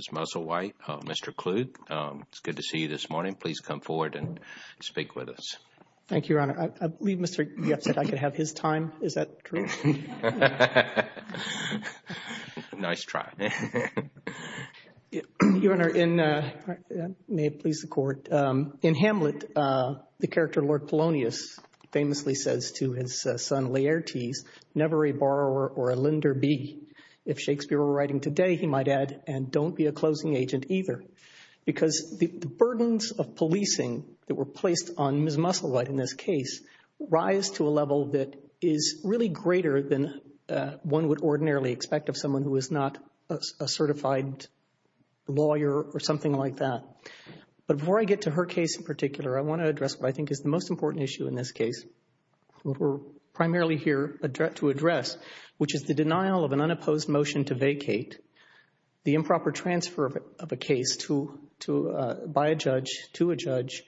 Mr. Kluge, it's good to see you this morning. Please come forward and speak with us. Thank you, Your Honor. I believe Mr. Jeff said I could have his time. Is that true? Nice try. Your Honor, may it please the Court, in Hamlet, the character Lord Polonius famously says to his son Laertes, never a borrower or a lender be. If Shakespeare were writing today, he might add, and don't be a closing agent either. Because the burdens of policing that were placed on Ms. Musselwhite in this case rise to a level that is really greater than one would ordinarily expect of someone who is not a certified lawyer or something like that. But before I get to her case in particular, I want to address what I think is the most important issue in this case. What we're primarily here to address, which is the denial of an unopposed motion to vacate, the improper transfer of a case by a judge to a judge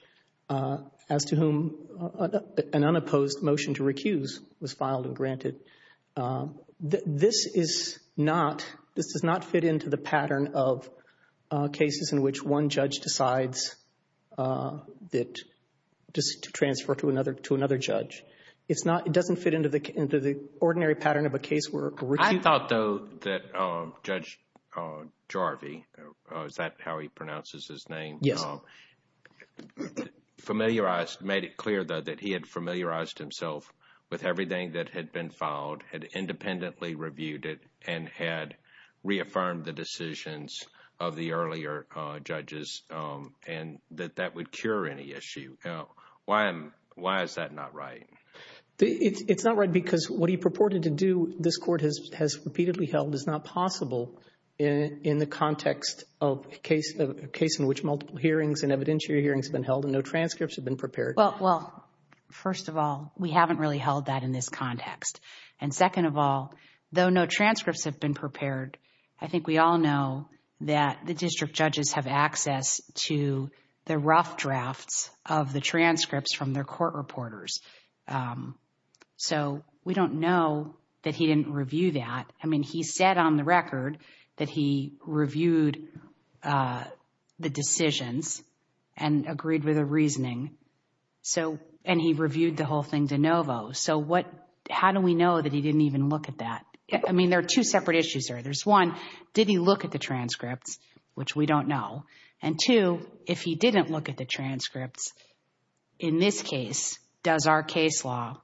as to whom an unopposed motion to recuse was filed and granted. This is not, this does not fit into the pattern of cases in which one judge decides that, just to transfer to another judge. It's not, it doesn't fit into the ordinary pattern of a case where a recuse. I thought, though, that Judge Jarvie, is that how he pronounces his name? Yes. Familiarized, made it clear, though, that he had familiarized himself with everything that had been filed, had independently reviewed it, and had reaffirmed the decisions of the earlier judges, and that that would cure any issue. Why is that not right? It's not right because what he purported to do, this Court has repeatedly held, is not possible in the context of a case in which multiple hearings and evidentiary hearings have been held and no transcripts have been prepared. Well, first of all, we haven't really held that in this context. And second of all, though no transcripts have been prepared, I think we all know that the district judges have access to the rough drafts of the transcripts from their court reporters. So we don't know that he didn't review that. I mean, he said on the record that he reviewed the decisions and agreed with the reasoning, and he reviewed the whole thing de novo. So how do we know that he didn't even look at that? I mean, there are two separate issues there. There's one, did he look at the transcripts, which we don't know, and two, if he didn't look at the transcripts, in this case, does our case law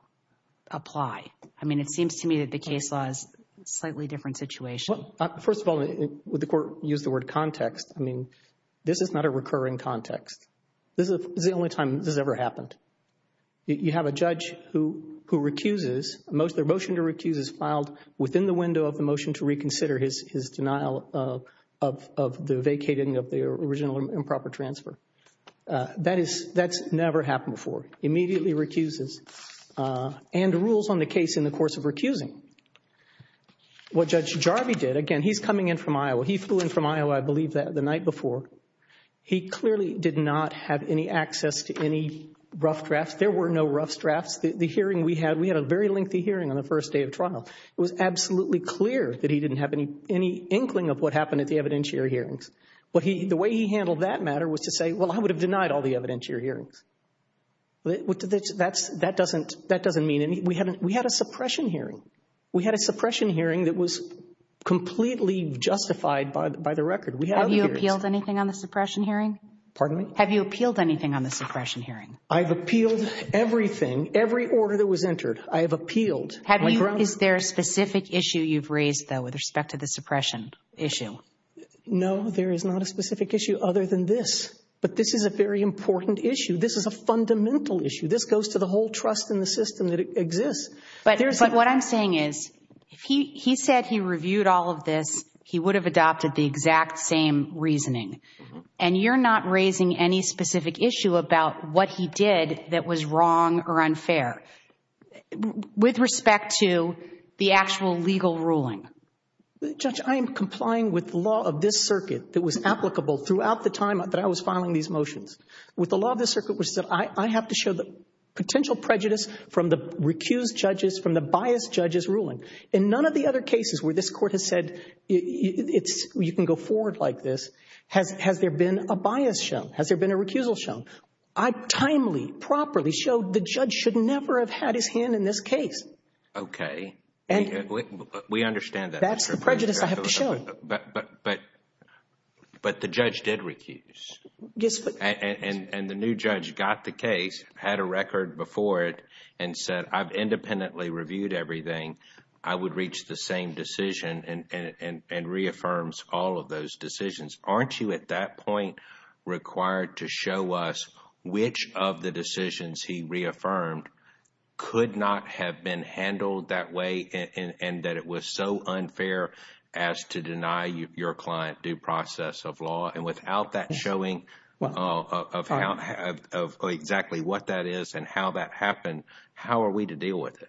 apply? I mean, it seems to me that the case law is a slightly different situation. First of all, would the Court use the word context? I mean, this is not a recurring context. This is the only time this has ever happened. You have a judge who recuses, their motion to recuse is filed within the window of the motion to reconsider his denial of the vacating of the original improper transfer. That's never happened before. Immediately recuses and rules on the case in the course of recusing. What Judge Jarvie did, again, he's coming in from Iowa. He flew in from Iowa, I believe, the night before. He clearly did not have any access to any rough drafts. There were no rough drafts. The hearing we had, we had a very lengthy hearing on the first day of trial. It was absolutely clear that he didn't have any inkling of what happened at the evidentiary hearings. The way he handled that matter was to say, well, I would have denied all the evidentiary hearings. That doesn't mean anything. We had a suppression hearing. We had a suppression hearing that was completely justified by the record. Have you appealed anything on the suppression hearing? Pardon me? Have you appealed anything on the suppression hearing? I've appealed everything, every order that was entered. I have appealed. Is there a specific issue you've raised, though, with respect to the suppression issue? No, there is not a specific issue other than this. But this is a very important issue. This is a fundamental issue. This goes to the whole trust in the system that exists. But what I'm saying is, if he said he reviewed all of this, he would have adopted the exact same reasoning. And you're not raising any specific issue about what he did that was wrong or unfair with respect to the actual legal ruling. Judge, I am complying with the law of this circuit that was applicable throughout the time that I was filing these motions. With the law of this circuit, I have to show the potential prejudice from the recused judges, from the biased judges' ruling. In none of the other cases where this Court has said you can go forward like this, has there been a bias shown? Has there been a recusal shown? I've timely, properly showed the judge should never have had his hand in this case. Okay. We understand that. That's the prejudice I have to show. But the judge did recuse. Yes. And the new judge got the case, had a record before it, and said, I've independently reviewed everything. I would reach the same decision and reaffirms all of those decisions. Aren't you at that point required to show us which of the decisions he reaffirmed could not have been handled that way and that it was so unfair as to deny your client due process of law? And without that showing of exactly what that is and how that happened, how are we to deal with it?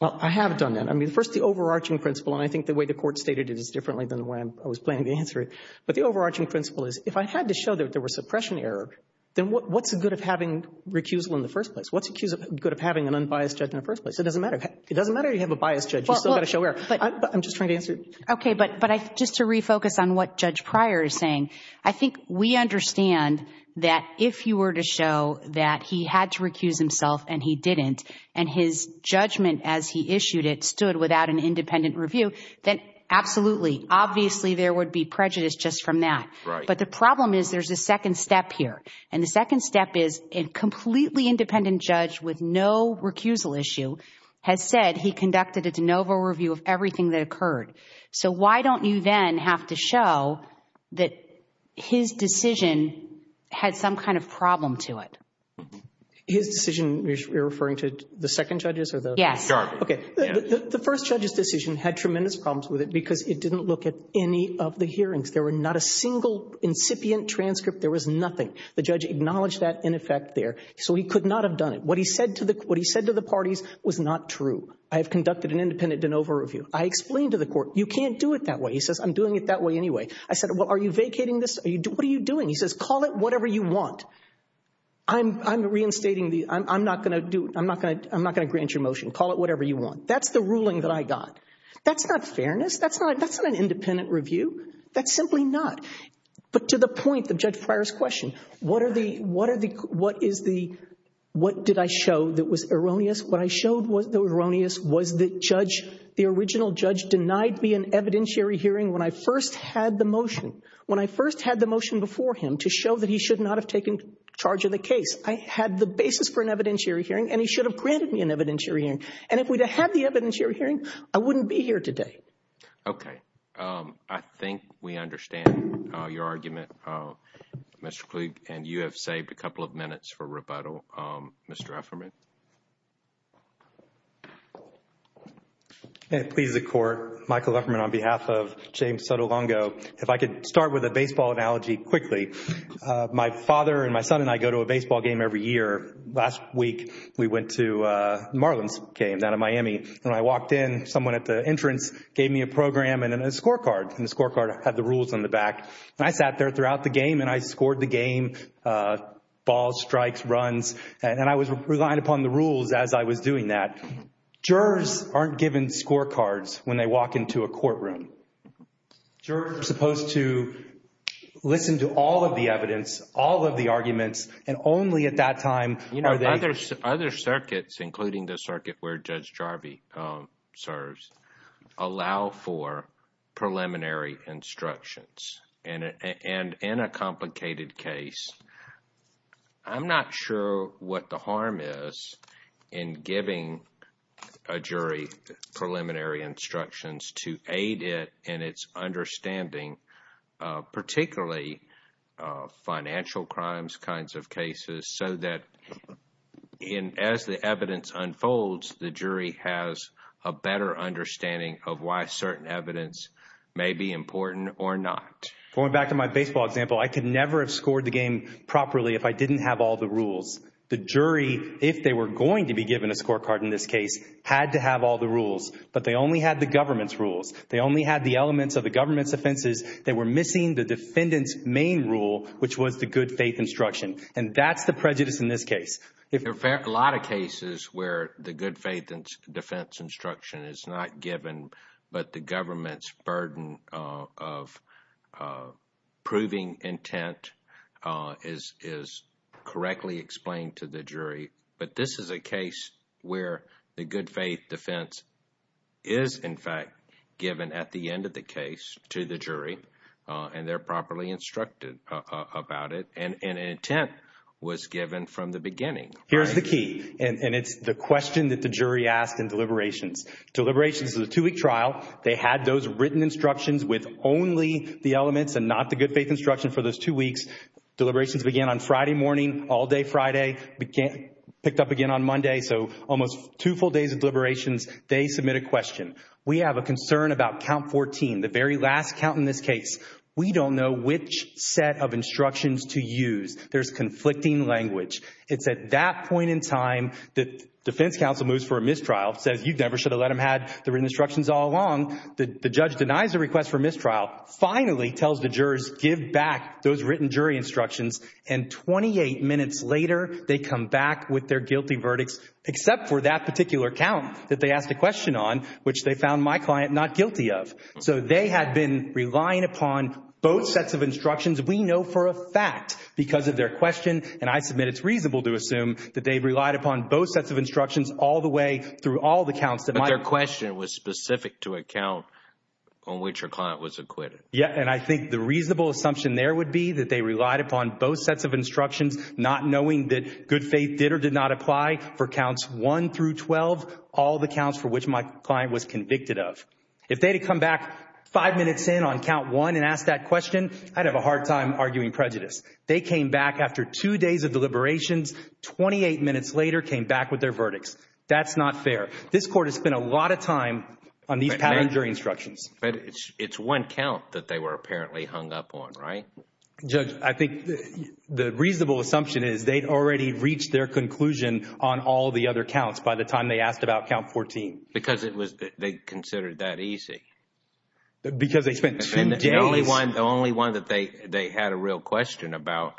Well, I have done that. I mean, first the overarching principle, and I think the way the Court stated it is differently than the way I was planning to answer it. But the overarching principle is if I had to show that there was suppression error, then what's the good of having recusal in the first place? What's the good of having an unbiased judge in the first place? It doesn't matter. It doesn't matter you have a biased judge. You've still got to show error. But I'm just trying to answer it. Okay. But just to refocus on what Judge Pryor is saying, I think we understand that if you were to show that he had to recuse himself and he didn't, and his judgment as he issued it stood without an independent review, then absolutely, obviously there would be prejudice just from that. Right. But the problem is there's a second step here. And the second step is a completely independent judge with no recusal issue has said he conducted a de novo review of everything that occurred. So why don't you then have to show that his decision had some kind of problem to it? His decision, you're referring to the second judge's? Yes. Okay. The first judge's decision had tremendous problems with it because it didn't look at any of the hearings. There were not a single incipient transcript. There was nothing. The judge acknowledged that in effect there. So he could not have done it. What he said to the parties was not true. I have conducted an independent de novo review. I explained to the court, you can't do it that way. He says, I'm doing it that way anyway. I said, well, are you vacating this? What are you doing? He says, call it whatever you want. I'm reinstating the ‑‑ I'm not going to grant your motion. Call it whatever you want. That's the ruling that I got. That's not fairness. That's not an independent review. That's simply not. But to the point of Judge Pryor's question, what did I show that was erroneous? What I showed that was erroneous was that the original judge denied me an evidentiary hearing when I first had the motion. I had the basis for an evidentiary hearing, and he should have granted me an evidentiary hearing. And if we'd have had the evidentiary hearing, I wouldn't be here today. Okay. I think we understand your argument, Mr. Kluge. And you have saved a couple of minutes for rebuttal. Mr. Lefferman? Please, the court. Michael Lefferman on behalf of James Sotolongo. If I could start with a baseball analogy quickly. My father and my son and I go to a baseball game every year. Last week, we went to Marlin's game down in Miami. When I walked in, someone at the entrance gave me a program and a scorecard. And the scorecard had the rules on the back. And I sat there throughout the game, and I scored the game, balls, strikes, runs. And I was relying upon the rules as I was doing that. Jurors aren't given scorecards when they walk into a courtroom. Jurors are supposed to listen to all of the evidence, all of the arguments, and only at that time are they— Other circuits, including the circuit where Judge Jarvi serves, allow for preliminary instructions. And in a complicated case, I'm not sure what the harm is in giving a jury preliminary instructions to aid it in its understanding, particularly financial crimes kinds of cases, so that as the evidence unfolds, the jury has a better understanding of why certain evidence may be important or not. Going back to my baseball example, I could never have scored the game properly if I didn't have all the rules. The jury, if they were going to be given a scorecard in this case, had to have all the rules. But they only had the government's rules. They only had the elements of the government's offenses. They were missing the defendant's main rule, which was the good faith instruction. And that's the prejudice in this case. There are a lot of cases where the good faith defense instruction is not given, but the government's burden of proving intent is correctly explained to the jury. But this is a case where the good faith defense is, in fact, given at the end of the case to the jury, and they're properly instructed about it, and intent was given from the beginning. Here's the key, and it's the question that the jury asked in deliberations. Deliberations is a two-week trial. They had those written instructions with only the elements and not the good faith instruction for those two weeks. Deliberations began on Friday morning, all day Friday, picked up again on Monday. So almost two full days of deliberations, they submit a question. We have a concern about count 14, the very last count in this case. We don't know which set of instructions to use. There's conflicting language. It's at that point in time that defense counsel moves for a mistrial, says you never should have let them have the written instructions all along. The judge denies the request for mistrial, finally tells the jurors give back those written jury instructions, and 28 minutes later they come back with their guilty verdicts except for that particular count that they asked a question on, which they found my client not guilty of. So they had been relying upon both sets of instructions. We know for a fact because of their question, and I submit it's reasonable to assume that they relied upon both sets of instructions all the way through all the counts. But their question was specific to a count on which your client was acquitted. Yeah, and I think the reasonable assumption there would be that they relied upon both sets of instructions, not knowing that good faith did or did not apply for counts 1 through 12, all the counts for which my client was convicted of. If they had come back five minutes in on count 1 and asked that question, I'd have a hard time arguing prejudice. They came back after two days of deliberations, 28 minutes later came back with their verdicts. That's not fair. This court has spent a lot of time on these pattern jury instructions. But it's one count that they were apparently hung up on, right? Judge, I think the reasonable assumption is they'd already reached their conclusion on all the other counts by the time they asked about count 14. Because they considered that easy. Because they spent two days. The only one that they had a real question about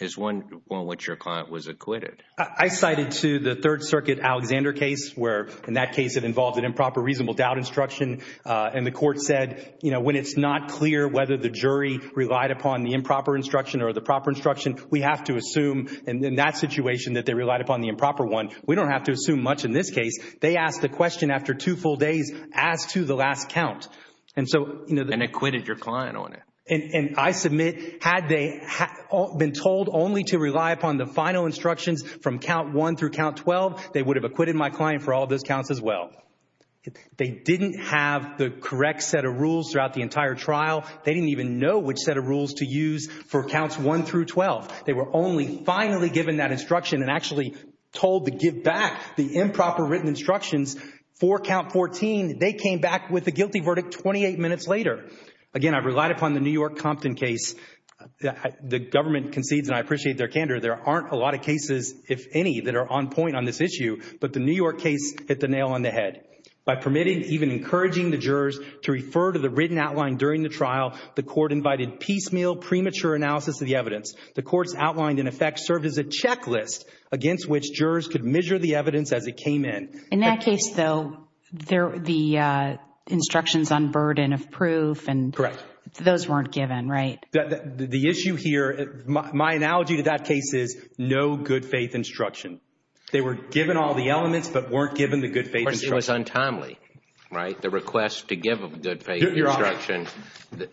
is one on which your client was acquitted. I cited, too, the Third Circuit Alexander case, where in that case it involved an improper reasonable doubt instruction. And the court said when it's not clear whether the jury relied upon the improper instruction or the proper instruction, we have to assume in that situation that they relied upon the improper one. We don't have to assume much in this case. They asked the question after two full days as to the last count. And acquitted your client on it. And I submit, had they been told only to rely upon the final instructions from count 1 through count 12, they would have acquitted my client for all those counts as well. They didn't have the correct set of rules throughout the entire trial. They didn't even know which set of rules to use for counts 1 through 12. They were only finally given that instruction and actually told to give back the improper written instructions for count 14. They came back with a guilty verdict 28 minutes later. Again, I've relied upon the New York Compton case. The government concedes, and I appreciate their candor, there aren't a lot of cases, if any, that are on point on this issue. But the New York case hit the nail on the head. By permitting, even encouraging the jurors to refer to the written outline during the trial, the court invited piecemeal, premature analysis of the evidence. The court's outline, in effect, served as a checklist against which jurors could measure the evidence as it came in. In that case, though, the instructions on burden of proof and those weren't given, right? The issue here, my analogy to that case is no good faith instruction. They were given all the elements but weren't given the good faith instruction. It was untimely, right? The request to give a good faith instruction,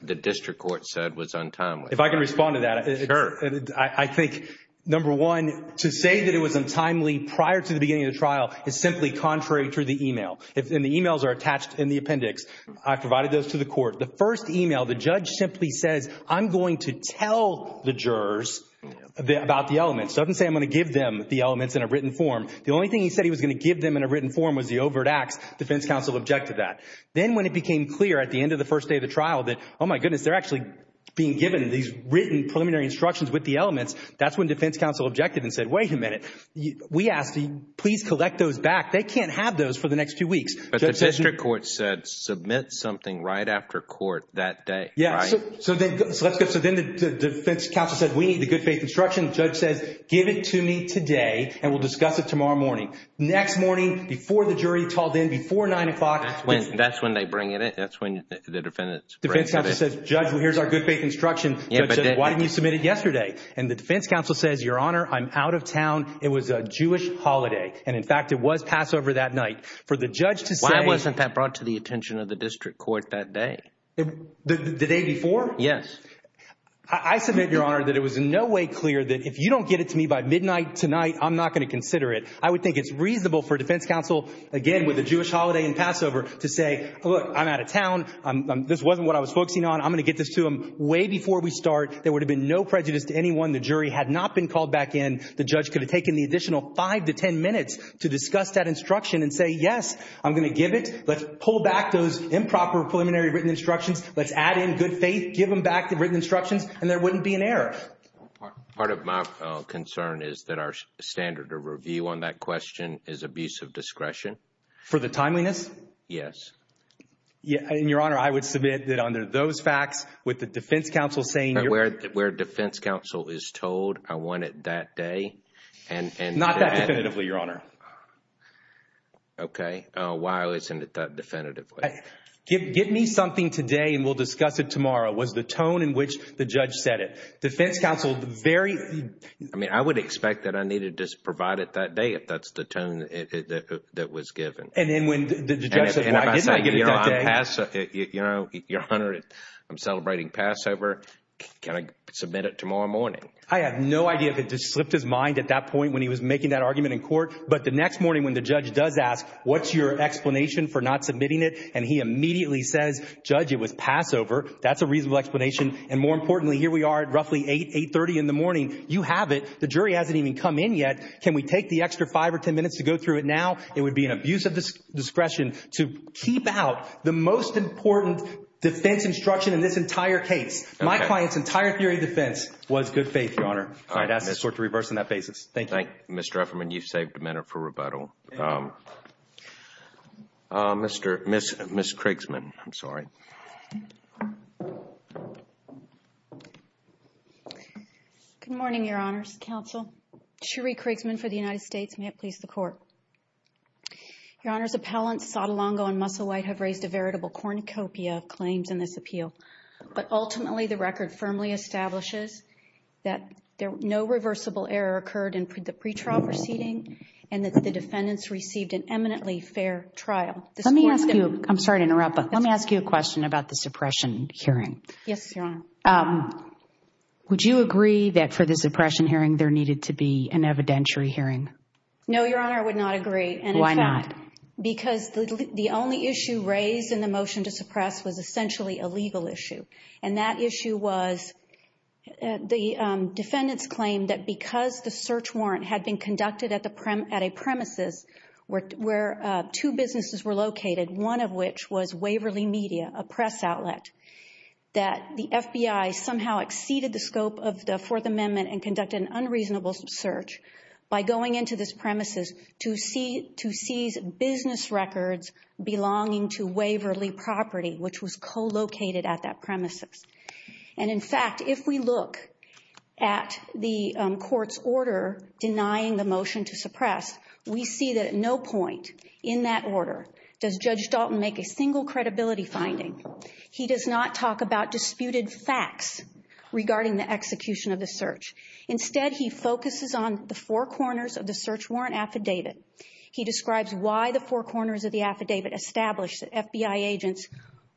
the district court said was untimely. If I can respond to that, I think, number one, to say that it was untimely prior to the beginning of the trial is simply contrary to the e-mail. And the e-mails are attached in the appendix. I provided those to the court. The first e-mail, the judge simply says, I'm going to tell the jurors about the elements. He doesn't say I'm going to give them the elements in a written form. The only thing he said he was going to give them in a written form was the overt acts. Defense counsel objected to that. Then when it became clear at the end of the first day of the trial that, oh, my goodness, they're actually being given these written preliminary instructions with the elements, that's when defense counsel objected and said, wait a minute. We asked, please collect those back. They can't have those for the next few weeks. But the district court said submit something right after court that day, right? Yeah, so then the defense counsel said we need the good faith instruction. The judge says give it to me today and we'll discuss it tomorrow morning. Next morning, before the jury talled in, before 9 o'clock. That's when they bring it in. That's when the defendants bring it in. Defense counsel says, judge, here's our good faith instruction. Judge says, why didn't you submit it yesterday? And the defense counsel says, your honor, I'm out of town. It was a Jewish holiday. And, in fact, it was Passover that night. For the judge to say. Why wasn't that brought to the attention of the district court that day? The day before? Yes. I submit, your honor, that it was in no way clear that if you don't get it to me by midnight tonight, I'm not going to consider it. I would think it's reasonable for defense counsel, again, with a Jewish holiday and Passover, to say, look, I'm out of town. This wasn't what I was focusing on. I'm going to get this to them way before we start. There would have been no prejudice to anyone. The jury had not been called back in. The judge could have taken the additional five to ten minutes to discuss that instruction and say, yes, I'm going to give it. Let's pull back those improper preliminary written instructions. Let's add in good faith. Give them back the written instructions. And there wouldn't be an error. Part of my concern is that our standard of review on that question is abuse of discretion. For the timeliness? Yes. And, your honor, I would submit that under those facts, with the defense counsel saying you're Where defense counsel is told I want it that day and Not that definitively, your honor. Okay. Why isn't it that definitively? Give me something today and we'll discuss it tomorrow. Was the tone in which the judge said it. Defense counsel very I mean, I would expect that I needed to provide it that day if that's the tone that was given. And then when the judge said, why didn't I give it that day? Your honor, I'm celebrating Passover. Can I submit it tomorrow morning? I have no idea if it just slipped his mind at that point when he was making that argument in court. But the next morning when the judge does ask, what's your explanation for not submitting it? And he immediately says, judge, it was Passover. That's a reasonable explanation. And more importantly, here we are at roughly 8, 830 in the morning. You have it. The jury hasn't even come in yet. Can we take the extra five or ten minutes to go through it now? It would be an abuse of discretion to keep out the most important defense instruction in this entire case. My client's entire theory of defense was good faith, your honor. I'd ask the court to reverse on that basis. Thank you. Mr. Efferman, you've saved a minute for rebuttal. Mr. Miss Miss Krigsman. I'm sorry. Good morning, Your Honor's counsel. Shuri Krigsman for the United States. May it please the court. Your Honor's appellants Sotolongo and Musselwhite have raised a veritable cornucopia of claims in this appeal. But ultimately, the record firmly establishes that no reversible error occurred in the pretrial proceeding and that the defendants received an eminently fair trial. Let me ask you, I'm sorry to interrupt, but let me ask you a question about the suppression hearing. Yes, Your Honor. Would you agree that for the suppression hearing there needed to be an evidentiary hearing? No, Your Honor, I would not agree. Why not? Because the only issue raised in the motion to suppress was essentially a legal issue. And that issue was the defendants claimed that because the search warrant had been conducted at a premises where two businesses were located, one of which was Waverly Media, a press outlet, that the FBI somehow exceeded the scope of the Fourth Amendment and conducted an unreasonable search by going into this premises to seize business records belonging to Waverly Property, which was co-located at that premises. And, in fact, if we look at the court's order denying the motion to suppress, we see that at no point in that order does Judge Dalton make a single credibility finding. He does not talk about disputed facts regarding the execution of the search. Instead, he focuses on the four corners of the search warrant affidavit. He describes why the four corners of the affidavit established that FBI agents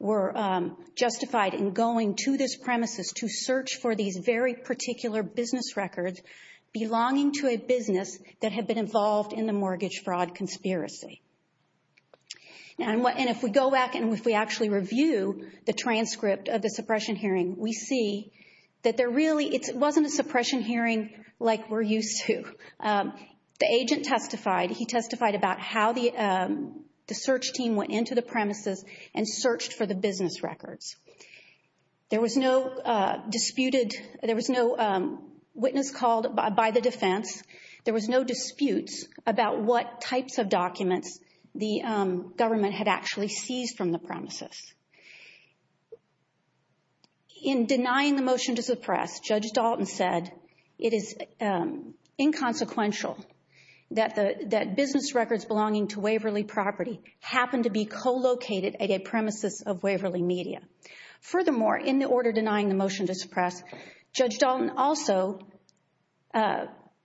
were justified in going to this premises to search for these very particular business records belonging to a business that had been involved in the mortgage fraud conspiracy. And if we go back and if we actually review the transcript of the suppression hearing, we see that there really wasn't a suppression hearing like we're used to. The agent testified. He testified about how the search team went into the premises and searched for the business records. There was no disputed, there was no witness called by the defense. There was no disputes about what types of documents the government had actually seized from the premises. In denying the motion to suppress, Judge Dalton said, it is inconsequential that business records belonging to Waverly Property happen to be co-located at a premises of Waverly Media. Furthermore, in the order denying the motion to suppress, Judge Dalton also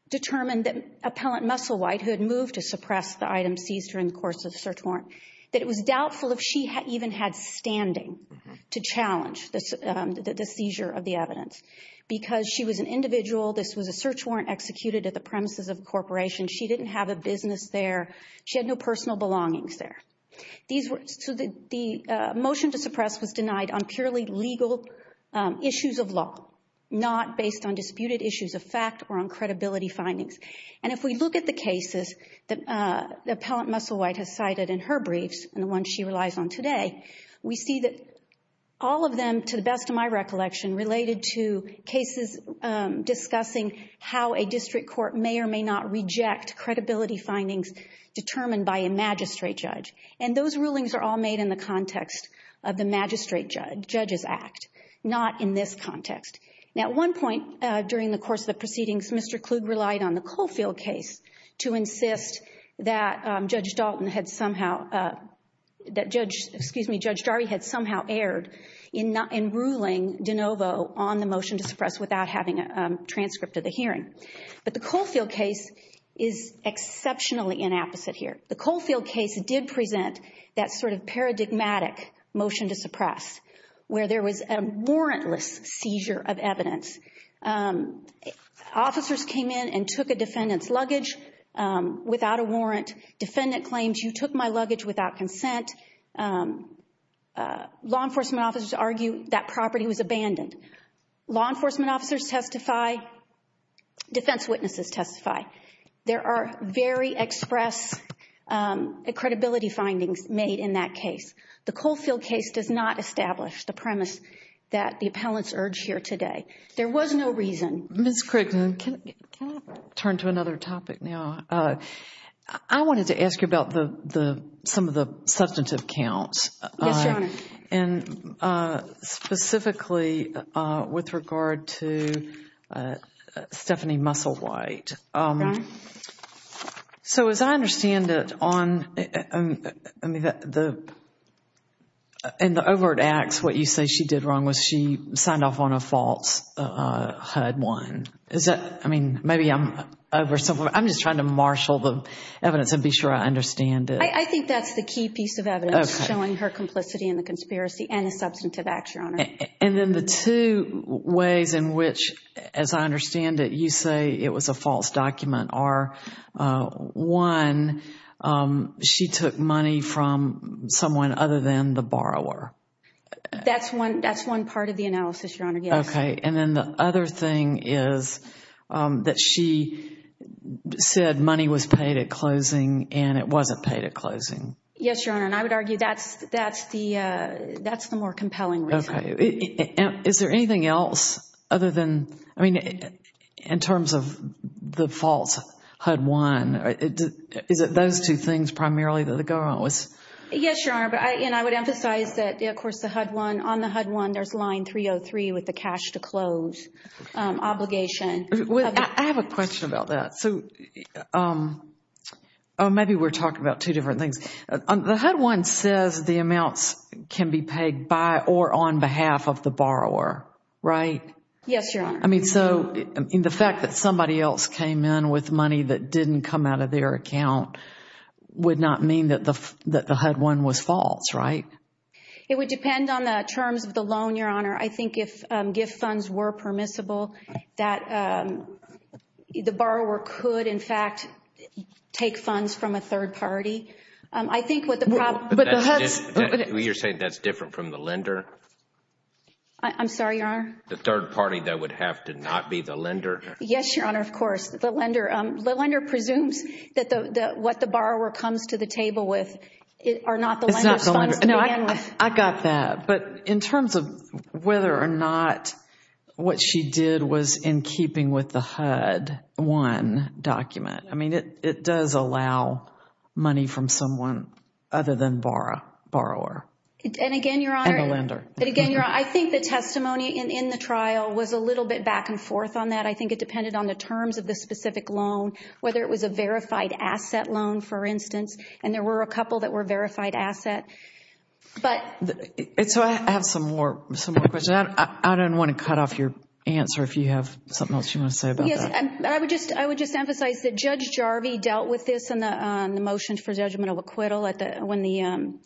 determined that Appellant Musselwhite, who had moved to suppress the item seized during the course of the search warrant, that it was doubtful if she even had standing to challenge the seizure of the evidence. Because she was an individual, this was a search warrant executed at the premises of a corporation. She didn't have a business there. She had no personal belongings there. So the motion to suppress was denied on purely legal issues of law, not based on disputed issues of fact or on credibility findings. And if we look at the cases that Appellant Musselwhite has cited in her briefs, and the ones she relies on today, we see that all of them, to the best of my recollection, related to cases discussing how a district court may or may not reject credibility findings determined by a magistrate judge. And those rulings are all made in the context of the magistrate judge's act, not in this context. Now, at one point during the course of the proceedings, Mr. Kluge relied on the Caulfield case to insist that Judge Dalton had somehow, that Judge, excuse me, Judge Jarry had somehow erred in ruling De Novo on the motion to suppress without having a transcript of the hearing. But the Caulfield case is exceptionally inapposite here. The Caulfield case did present that sort of paradigmatic motion to suppress where there was a warrantless seizure of evidence. Officers came in and took a defendant's luggage without a warrant. Defendant claims, you took my luggage without consent. Law enforcement officers argue that property was abandoned. Law enforcement officers testify. Defense witnesses testify. There are very express credibility findings made in that case. The Caulfield case does not establish the premise that the appellants urge here today. There was no reason. Ms. Crickton, can I turn to another topic now? I wanted to ask you about some of the substantive counts. Yes, Your Honor. And specifically with regard to Stephanie Musselwhite. Go ahead. So as I understand it, in the overt acts, what you say she did wrong was she signed off on a false HUD-1. Is that, I mean, maybe I'm over something. I'm just trying to marshal the evidence and be sure I understand it. I think that's the key piece of evidence showing her complicity in the conspiracy and the substantive acts, Your Honor. And then the two ways in which, as I understand it, you say it was a false document are, one, she took money from someone other than the borrower. That's one part of the analysis, Your Honor, yes. Okay. And then the other thing is that she said money was paid at closing and it wasn't paid at closing. Yes, Your Honor. And I would argue that's the more compelling reason. Okay. Is there anything else other than, I mean, in terms of the false HUD-1, is it those two things primarily that are going on? Yes, Your Honor. And I would emphasize that, of course, the HUD-1, on the HUD-1 there's line 303 with the cash to close obligation. I have a question about that. So maybe we're talking about two different things. The HUD-1 says the amounts can be paid by or on behalf of the borrower, right? Yes, Your Honor. I mean, so the fact that somebody else came in with money that didn't come out of their account would not mean that the HUD-1 was false, right? It would depend on the terms of the loan, Your Honor. I think if gift funds were permissible, that the borrower could, in fact, take funds from a third party. I think what the problem – You're saying that's different from the lender? I'm sorry, Your Honor? The third party that would have to not be the lender? Yes, Your Honor, of course. The lender presumes that what the borrower comes to the table with are not the lender's funds to begin with. I got that. But in terms of whether or not what she did was in keeping with the HUD-1 document, I mean, it does allow money from someone other than borrower. And again, Your Honor, I think the testimony in the trial was a little bit back and forth on that. I think it depended on the terms of the specific loan, whether it was a verified asset loan, for instance. And there were a couple that were verified asset. So I have some more questions. I don't want to cut off your answer if you have something else you want to say about that. I would just emphasize that Judge Jarvie dealt with this in the motion for judgmental acquittal when the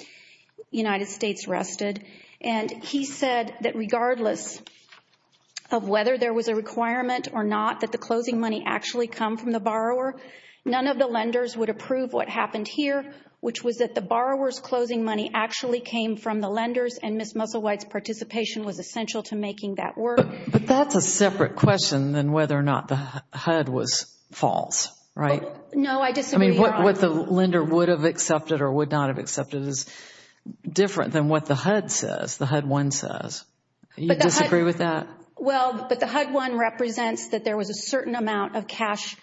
United States rested. And he said that regardless of whether there was a requirement or not that the closing money actually come from the borrower, none of the lenders would approve what happened here, which was that the borrower's closing money actually came from the lenders, and Ms. Musselwhite's participation was essential to making that work. But that's a separate question than whether or not the HUD was false, right? No, I disagree, Your Honor. What the lender would have accepted or would not have accepted is different than what the HUD says, the HUD-1 says. You disagree with that? Well, but the HUD-1 represents that there was a certain amount of cash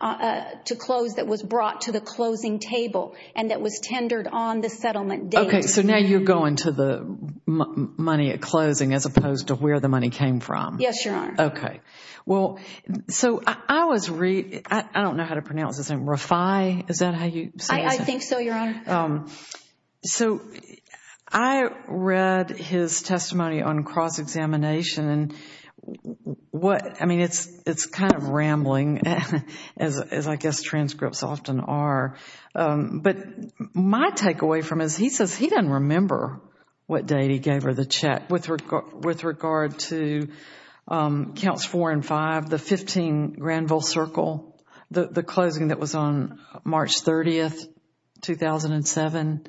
to close that was brought to the closing table and that was tendered on the settlement date. Okay, so now you're going to the money at closing as opposed to where the money came from. Yes, Your Honor. Okay. Well, so I was reading, I don't know how to pronounce his name, Rafai, is that how you say his name? I think so, Your Honor. So I read his testimony on cross-examination and what, I mean, it's kind of rambling, as I guess transcripts often are. But my takeaway from this, he says he doesn't remember what date he gave her the check with regard to counts 4 and 5, the 15 Granville Circle, the closing that was on March 30, 2007.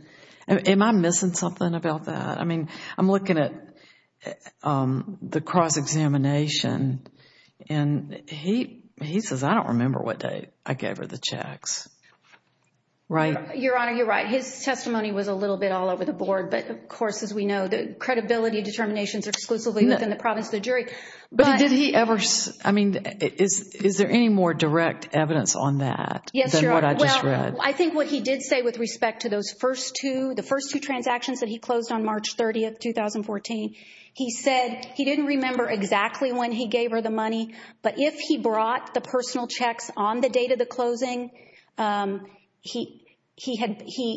Am I missing something about that? I mean, I'm looking at the cross-examination and he says, I don't remember what date I gave her the checks, right? Your Honor, you're right. His testimony was a little bit all over the board, but of course, as we know, the credibility determinations are exclusively within the province of the jury. But did he ever, I mean, is there any more direct evidence on that than what I just read? I think what he did say with respect to those first two, the first two transactions that he closed on March 30, 2014, he said he didn't remember exactly when he gave her the money, but if he brought the personal checks on the date of the closing, he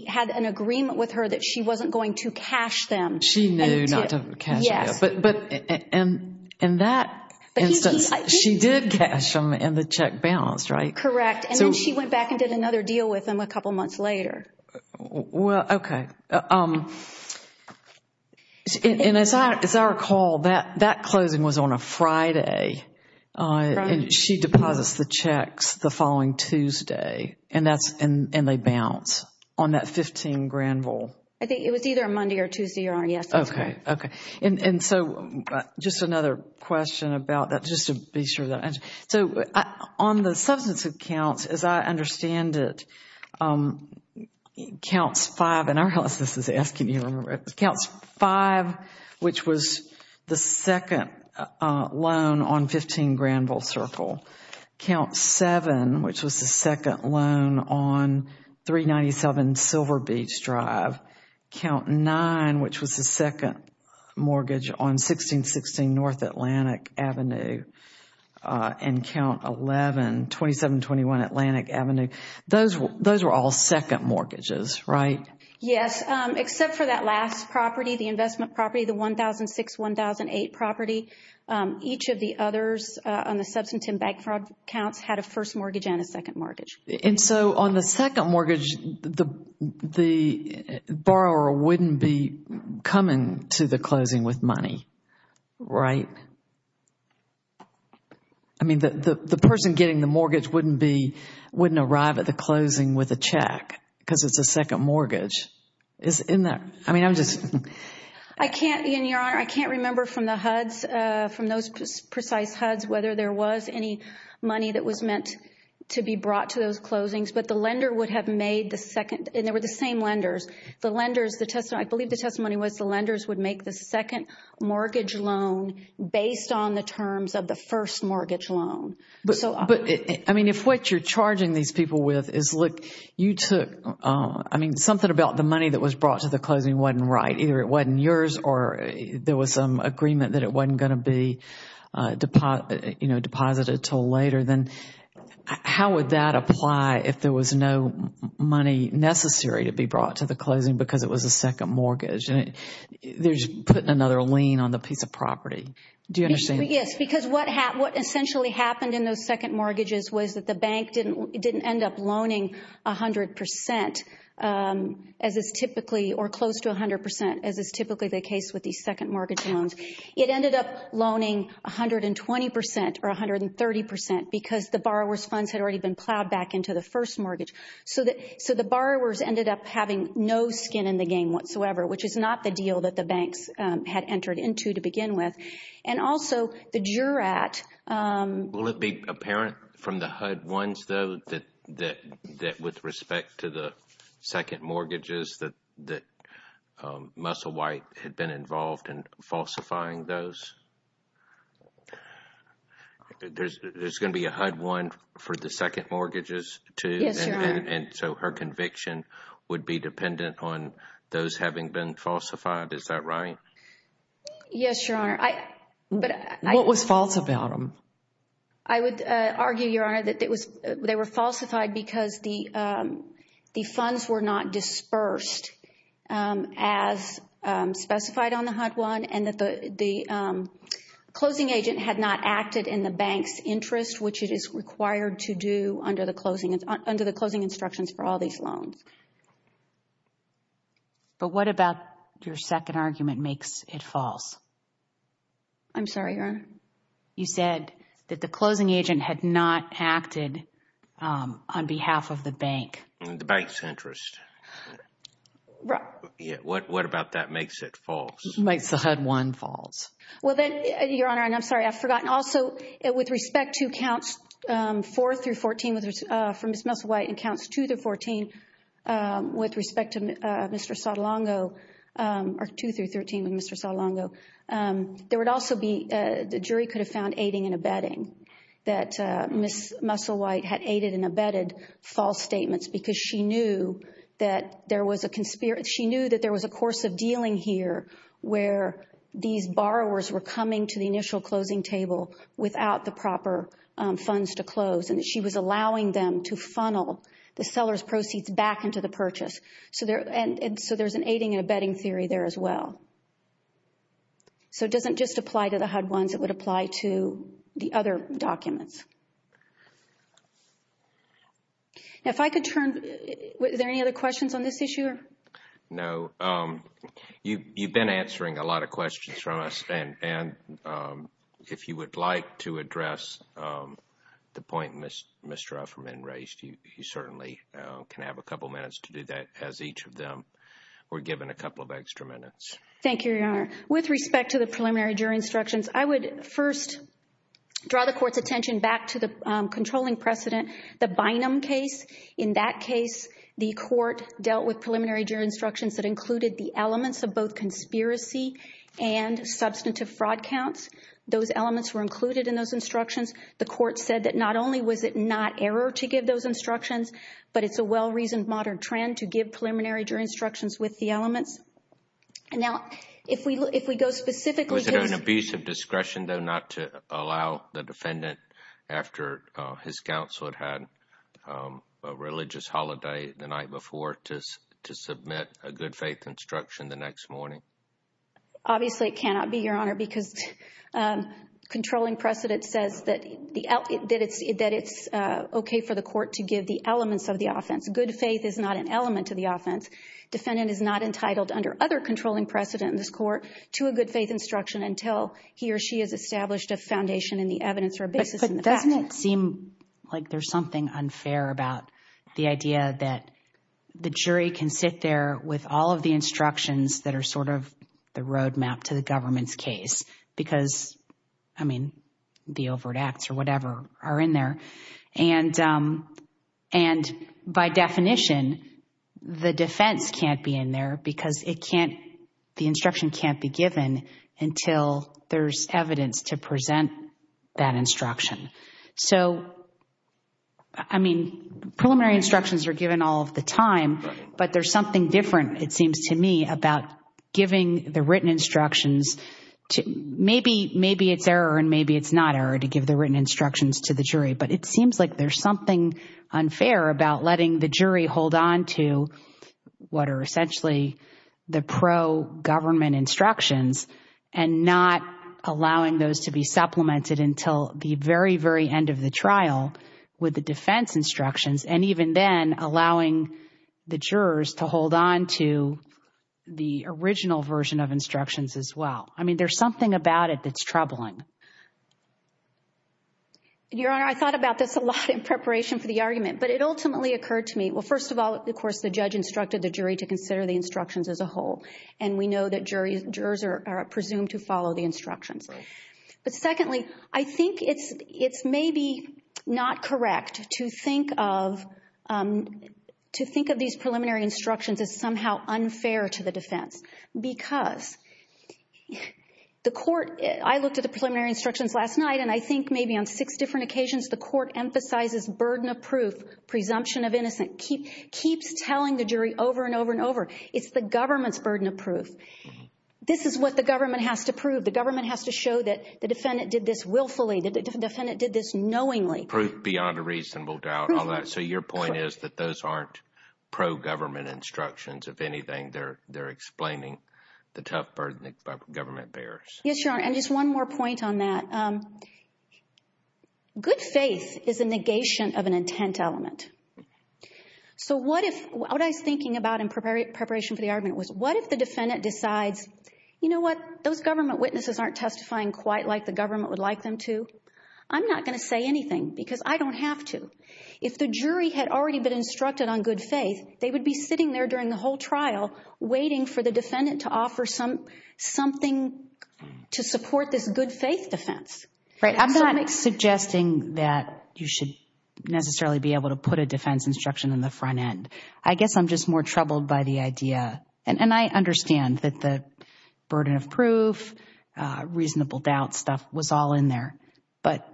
had an agreement with her that she wasn't going to cash them. She knew not to cash them. Yes. But in that instance, she did cash them and the check bounced, right? Correct. And then she went back and did another deal with him a couple months later. Well, okay. And as I recall, that closing was on a Friday. She deposits the checks the following Tuesday and they bounce on that 15 grand roll. I think it was either a Monday or Tuesday, Your Honor. Yes, that's correct. Okay, okay. And so just another question about that, just to be sure. So on the substance of counts, as I understand it, counts five, and I realize this is asking you to remember it. Counts five, which was the second loan on 15 grand roll circle. Count seven, which was the second loan on 397 Silver Beach Drive. Count nine, which was the second mortgage on 1616 North Atlantic Avenue. And count 11, 2721 Atlantic Avenue. Those were all second mortgages, right? Yes, except for that last property, the investment property, the 1006-1008 property. Each of the others on the substantive bank fraud counts had a first mortgage and a second mortgage. And so on the second mortgage, the borrower wouldn't be coming to the closing with money, right? I mean, the person getting the mortgage wouldn't be, wouldn't arrive at the closing with a check because it's a second mortgage. Isn't that, I mean, I'm just. I can't, and Your Honor, I can't remember from the HUDs, from those precise HUDs, whether there was any money that was meant to be brought to those closings. But the lender would have made the second, and they were the same lenders. The lenders, I believe the testimony was the lenders would make the second mortgage loan based on the terms of the first mortgage loan. But, I mean, if what you're charging these people with is, look, you took, I mean, something about the money that was brought to the closing wasn't right. Either it wasn't yours or there was some agreement that it wasn't going to be deposited until later. Then how would that apply if there was no money necessary to be brought to the closing because it was a second mortgage? They're just putting another lien on the piece of property. Do you understand? Yes, because what essentially happened in those second mortgages was that the bank didn't end up loaning 100 percent, as is typically, or close to 100 percent, as is typically the case with these second mortgage loans. It ended up loaning 120 percent or 130 percent because the borrower's funds had already been plowed back into the first mortgage. So the borrowers ended up having no skin in the game whatsoever, which is not the deal that the banks had entered into to begin with. And also, the JURAT. Will it be apparent from the HUD ones, though, that with respect to the second mortgages that Muscle White had been involved in falsifying those? There's going to be a HUD one for the second mortgages, too? Yes, Your Honor. And so her conviction would be dependent on those having been falsified. Is that right? Yes, Your Honor. What was false about them? I would argue, Your Honor, that they were falsified because the funds were not dispersed as specified on the HUD one and that the closing agent had not acted in the bank's interest, which it is required to do under the closing instructions for all these loans. But what about your second argument makes it false? I'm sorry, Your Honor. You said that the closing agent had not acted on behalf of the bank. In the bank's interest. Right. What about that makes it false? Makes the HUD one false. Well, then, Your Honor, and I'm sorry, I've forgotten. Also, with respect to counts 4 through 14 for Ms. Muscle White and counts 2 through 14 with respect to Mr. Sotolongo, or 2 through 13 with Mr. Sotolongo, there would also be, the jury could have found aiding and abetting, that Ms. Muscle White had aided and abetted false statements because she knew that there was a course of dealing here where these borrowers were coming to the initial closing table without the proper funds to close, and she was allowing them to funnel the seller's proceeds back into the purchase. So there's an aiding and abetting theory there as well. So it doesn't just apply to the HUD ones. It would apply to the other documents. Now, if I could turn, is there any other questions on this issue? No. You've been answering a lot of questions from us, and if you would like to address the point Mr. Ufferman raised, you certainly can have a couple minutes to do that as each of them were given a couple of extra minutes. Thank you, Your Honor. With respect to the preliminary jury instructions, I would first draw the Court's attention back to the controlling precedent, the Bynum case. In that case, the Court dealt with preliminary jury instructions that included the elements of both conspiracy and substantive fraud counts. Those elements were included in those instructions. The Court said that not only was it not error to give those instructions, but it's a well-reasoned modern trend to give preliminary jury instructions with the elements. Now, if we go specifically to this… Was there an abuse of discretion, though, not to allow the defendant, after his counsel had had a religious holiday the night before, to submit a good-faith instruction the next morning? Obviously, it cannot be, Your Honor, because controlling precedent says that it's okay for the Court to give the elements of the offense. Good faith is not an element to the offense. Defendant is not entitled under other controlling precedent in this Court to a good-faith instruction until he or she has established a foundation in the evidence or a basis in the facts. But doesn't it seem like there's something unfair about the idea that the jury can sit there with all of the instructions that are sort of the roadmap to the government's case? Because, I mean, the overt acts or whatever are in there. And by definition, the defense can't be in there because the instruction can't be given until there's evidence to present that instruction. So, I mean, preliminary instructions are given all of the time, but there's something different, it seems to me, about giving the written instructions. Maybe it's error and maybe it's not error to give the written instructions to the jury, but it seems like there's something unfair about letting the jury hold on to what are essentially the pro-government instructions and not allowing those to be supplemented until the very, very end of the trial with the defense instructions, and even then allowing the jurors to hold on to the original version of instructions as well. I mean, there's something about it that's troubling. Your Honor, I thought about this a lot in preparation for the argument, but it ultimately occurred to me, well, first of all, of course, the judge instructed the jury to consider the instructions as a whole, and we know that jurors are presumed to follow the instructions. But secondly, I think it's maybe not correct to think of these preliminary instructions as somehow unfair to the defense because the court – I looked at the preliminary instructions last night, and I think maybe on six different occasions the court emphasizes burden of proof, presumption of innocence, keeps telling the jury over and over and over, it's the government's burden of proof. This is what the government has to prove. The government has to show that the defendant did this willfully, that the defendant did this knowingly. Proof beyond a reasonable doubt, all that. So your point is that those aren't pro-government instructions. If anything, they're explaining the tough burden the government bears. Yes, Your Honor, and just one more point on that. Good faith is a negation of an intent element. So what if – what I was thinking about in preparation for the argument was what if the defendant decides, you know what, those government witnesses aren't testifying quite like the government would like them to? I'm not going to say anything because I don't have to. If the jury had already been instructed on good faith, they would be sitting there during the whole trial waiting for the defendant to offer something to support this good faith defense. Right, I'm not suggesting that you should necessarily be able to put a defense instruction on the front end. I guess I'm just more troubled by the idea, and I understand that the burden of proof, reasonable doubt stuff was all in there. But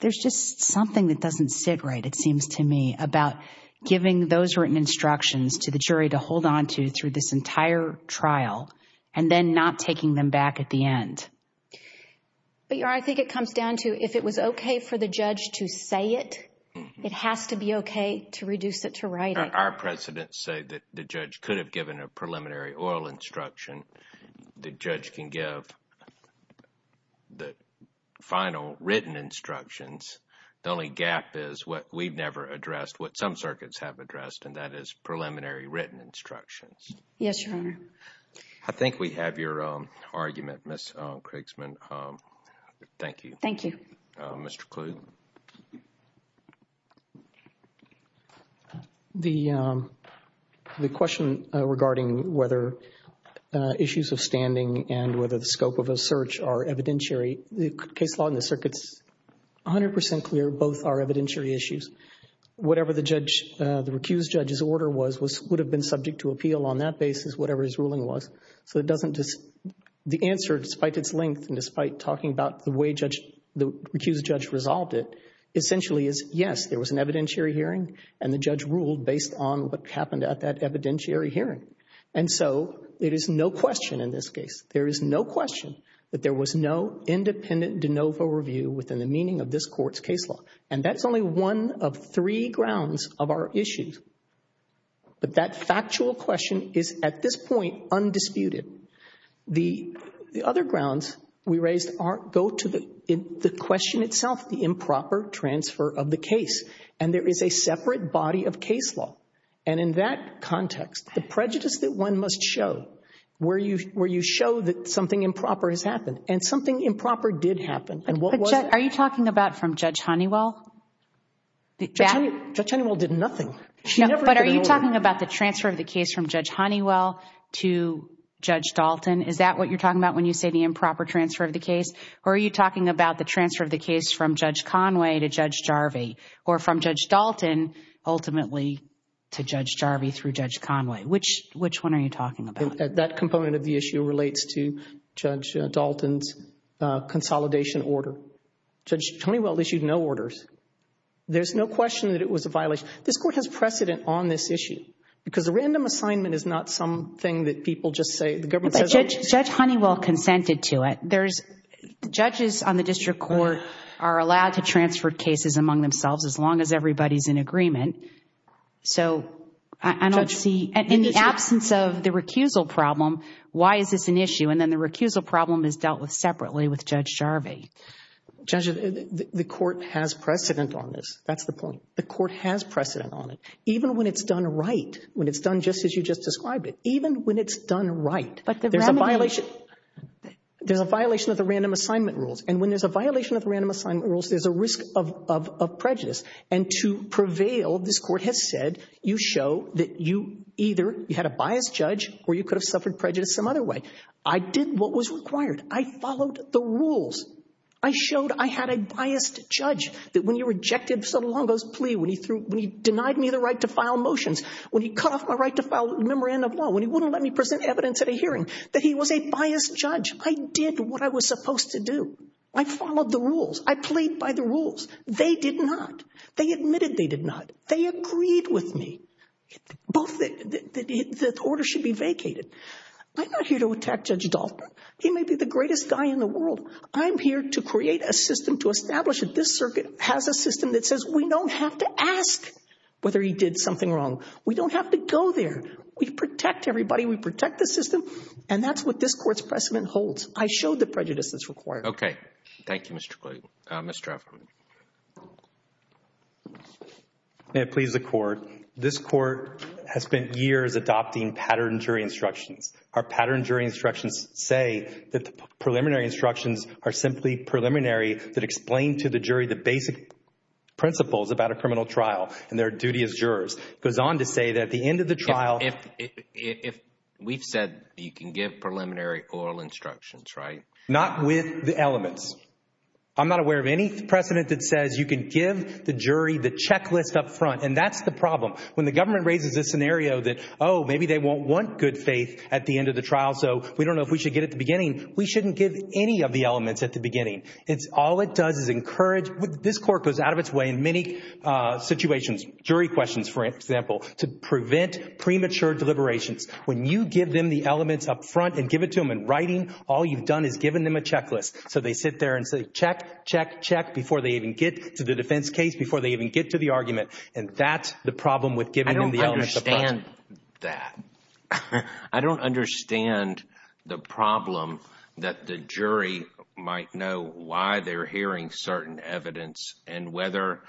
there's just something that doesn't sit right, it seems to me, about giving those written instructions to the jury to hold on to through this entire trial and then not taking them back at the end. But, Your Honor, I think it comes down to if it was okay for the judge to say it, it has to be okay to reduce it to writing. Our precedents say that the judge could have given a preliminary oral instruction. The judge can give the final written instructions. The only gap is what we've never addressed, what some circuits have addressed, and that is preliminary written instructions. Yes, Your Honor. I think we have your argument, Ms. Krigsman. Thank you. Thank you. Mr. Klug. The question regarding whether issues of standing and whether the scope of a search are evidentiary, the case law and the circuits, 100 percent clear, both are evidentiary issues. Whatever the recused judge's order was would have been subject to appeal on that basis, whatever his ruling was. So the answer, despite its length and despite talking about the way the recused judge resolved it, essentially is yes, there was an evidentiary hearing, and the judge ruled based on what happened at that evidentiary hearing. And so there is no question in this case, there is no question that there was no independent de novo review within the meaning of this court's case law. And that's only one of three grounds of our issues. But that factual question is, at this point, undisputed. The other grounds we raised go to the question itself, the improper transfer of the case. And there is a separate body of case law. And in that context, the prejudice that one must show where you show that something improper has happened, and something improper did happen, and what was it? Are you talking about from Judge Honeywell? Judge Honeywell did nothing. But are you talking about the transfer of the case from Judge Honeywell to Judge Dalton? Is that what you're talking about when you say the improper transfer of the case? Or are you talking about the transfer of the case from Judge Conway to Judge Jarvie, or from Judge Dalton ultimately to Judge Jarvie through Judge Conway? Which one are you talking about? That component of the issue relates to Judge Dalton's consolidation order. Judge Honeywell issued no orders. There's no question that it was a violation. This court has precedent on this issue because a random assignment is not something that people just say. Judge Honeywell consented to it. Judges on the district court are allowed to transfer cases among themselves as long as everybody is in agreement. So I don't see, in the absence of the recusal problem, why is this an issue? And then the recusal problem is dealt with separately with Judge Jarvie. Judge, the court has precedent on this. That's the point. The court has precedent on it, even when it's done right, when it's done just as you just described it. Even when it's done right, there's a violation of the random assignment rules. And when there's a violation of the random assignment rules, there's a risk of prejudice. And to prevail, this court has said, you show that you either had a biased judge or you could have suffered prejudice some other way. I did what was required. I followed the rules. I showed I had a biased judge, that when you rejected Sonolongo's plea, when he denied me the right to file motions, when he cut off my right to file a memorandum of law, when he wouldn't let me present evidence at a hearing, that he was a biased judge. I did what I was supposed to do. I followed the rules. I played by the rules. They did not. They admitted they did not. They agreed with me. Both the order should be vacated. I'm not here to attack Judge Dalton. He may be the greatest guy in the world. I'm here to create a system to establish that this circuit has a system that says we don't have to ask whether he did something wrong. We don't have to go there. We protect everybody. We protect the system. And that's what this court's precedent holds. I showed the prejudice that's required. Okay. Thank you, Mr. Clayton. Mr. Afflew. May it please the Court. This Court has spent years adopting pattern jury instructions. Our pattern jury instructions say that the preliminary instructions are simply preliminary that explain to the jury the basic principles about a criminal trial and their duty as jurors. It goes on to say that at the end of the trial— If we've said you can give preliminary oral instructions, right? Not with the elements. I'm not aware of any precedent that says you can give the jury the checklist up front, and that's the problem. When the government raises this scenario that, oh, maybe they won't want good faith at the end of the trial, so we don't know if we should get it at the beginning, we shouldn't give any of the elements at the beginning. All it does is encourage—this court goes out of its way in many situations, jury questions, for example, to prevent premature deliberations. When you give them the elements up front and give it to them in writing, all you've done is given them a checklist. So they sit there and say, check, check, check, before they even get to the defense case, before they even get to the argument, and that's the problem with giving them the elements up front. I don't understand that. I don't understand the problem that the jury might know why they're hearing certain evidence and whether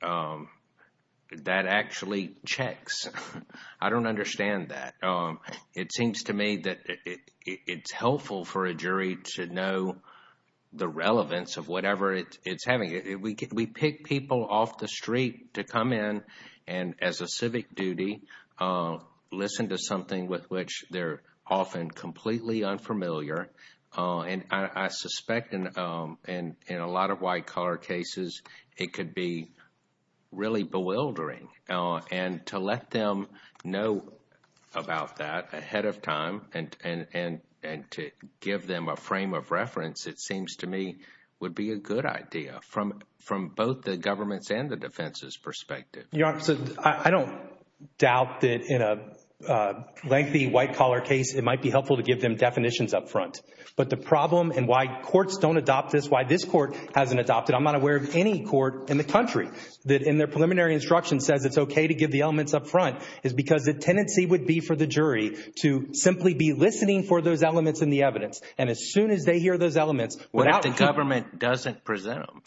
that actually checks. I don't understand that. It seems to me that it's helpful for a jury to know the relevance of whatever it's having. We pick people off the street to come in and, as a civic duty, listen to something with which they're often completely unfamiliar. And I suspect in a lot of white-collar cases, it could be really bewildering. And to let them know about that ahead of time and to give them a frame of reference, it seems to me, would be a good idea from both the government's and the defense's perspective. Your Honor, I don't doubt that in a lengthy white-collar case, it might be helpful to give them definitions up front. But the problem and why courts don't adopt this, why this court hasn't adopted it, I'm not aware of any court in the country that in their preliminary instruction says it's okay to give the elements up front. It's because the tendency would be for the jury to simply be listening for those elements in the evidence. And as soon as they hear those elements – What if the government doesn't presume?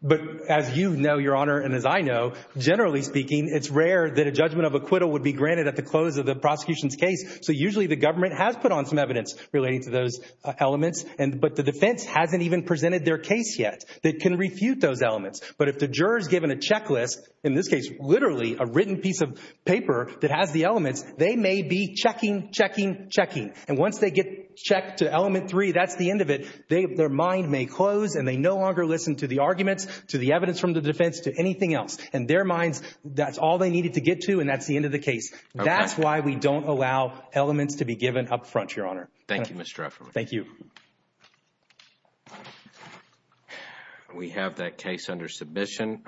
But as you know, Your Honor, and as I know, generally speaking, it's rare that a judgment of acquittal would be granted at the close of the prosecution's case. So usually the government has put on some evidence relating to those elements. But the defense hasn't even presented their case yet. They can refute those elements. But if the juror is given a checklist, in this case literally a written piece of paper that has the elements, they may be checking, checking, checking. And once they get checked to element three, that's the end of it. Their mind may close and they no longer listen to the arguments, to the evidence from the defense, to anything else. In their minds, that's all they needed to get to and that's the end of the case. That's why we don't allow elements to be given up front, Your Honor. Thank you, Mr. Efferman. Thank you. We have that case under submission.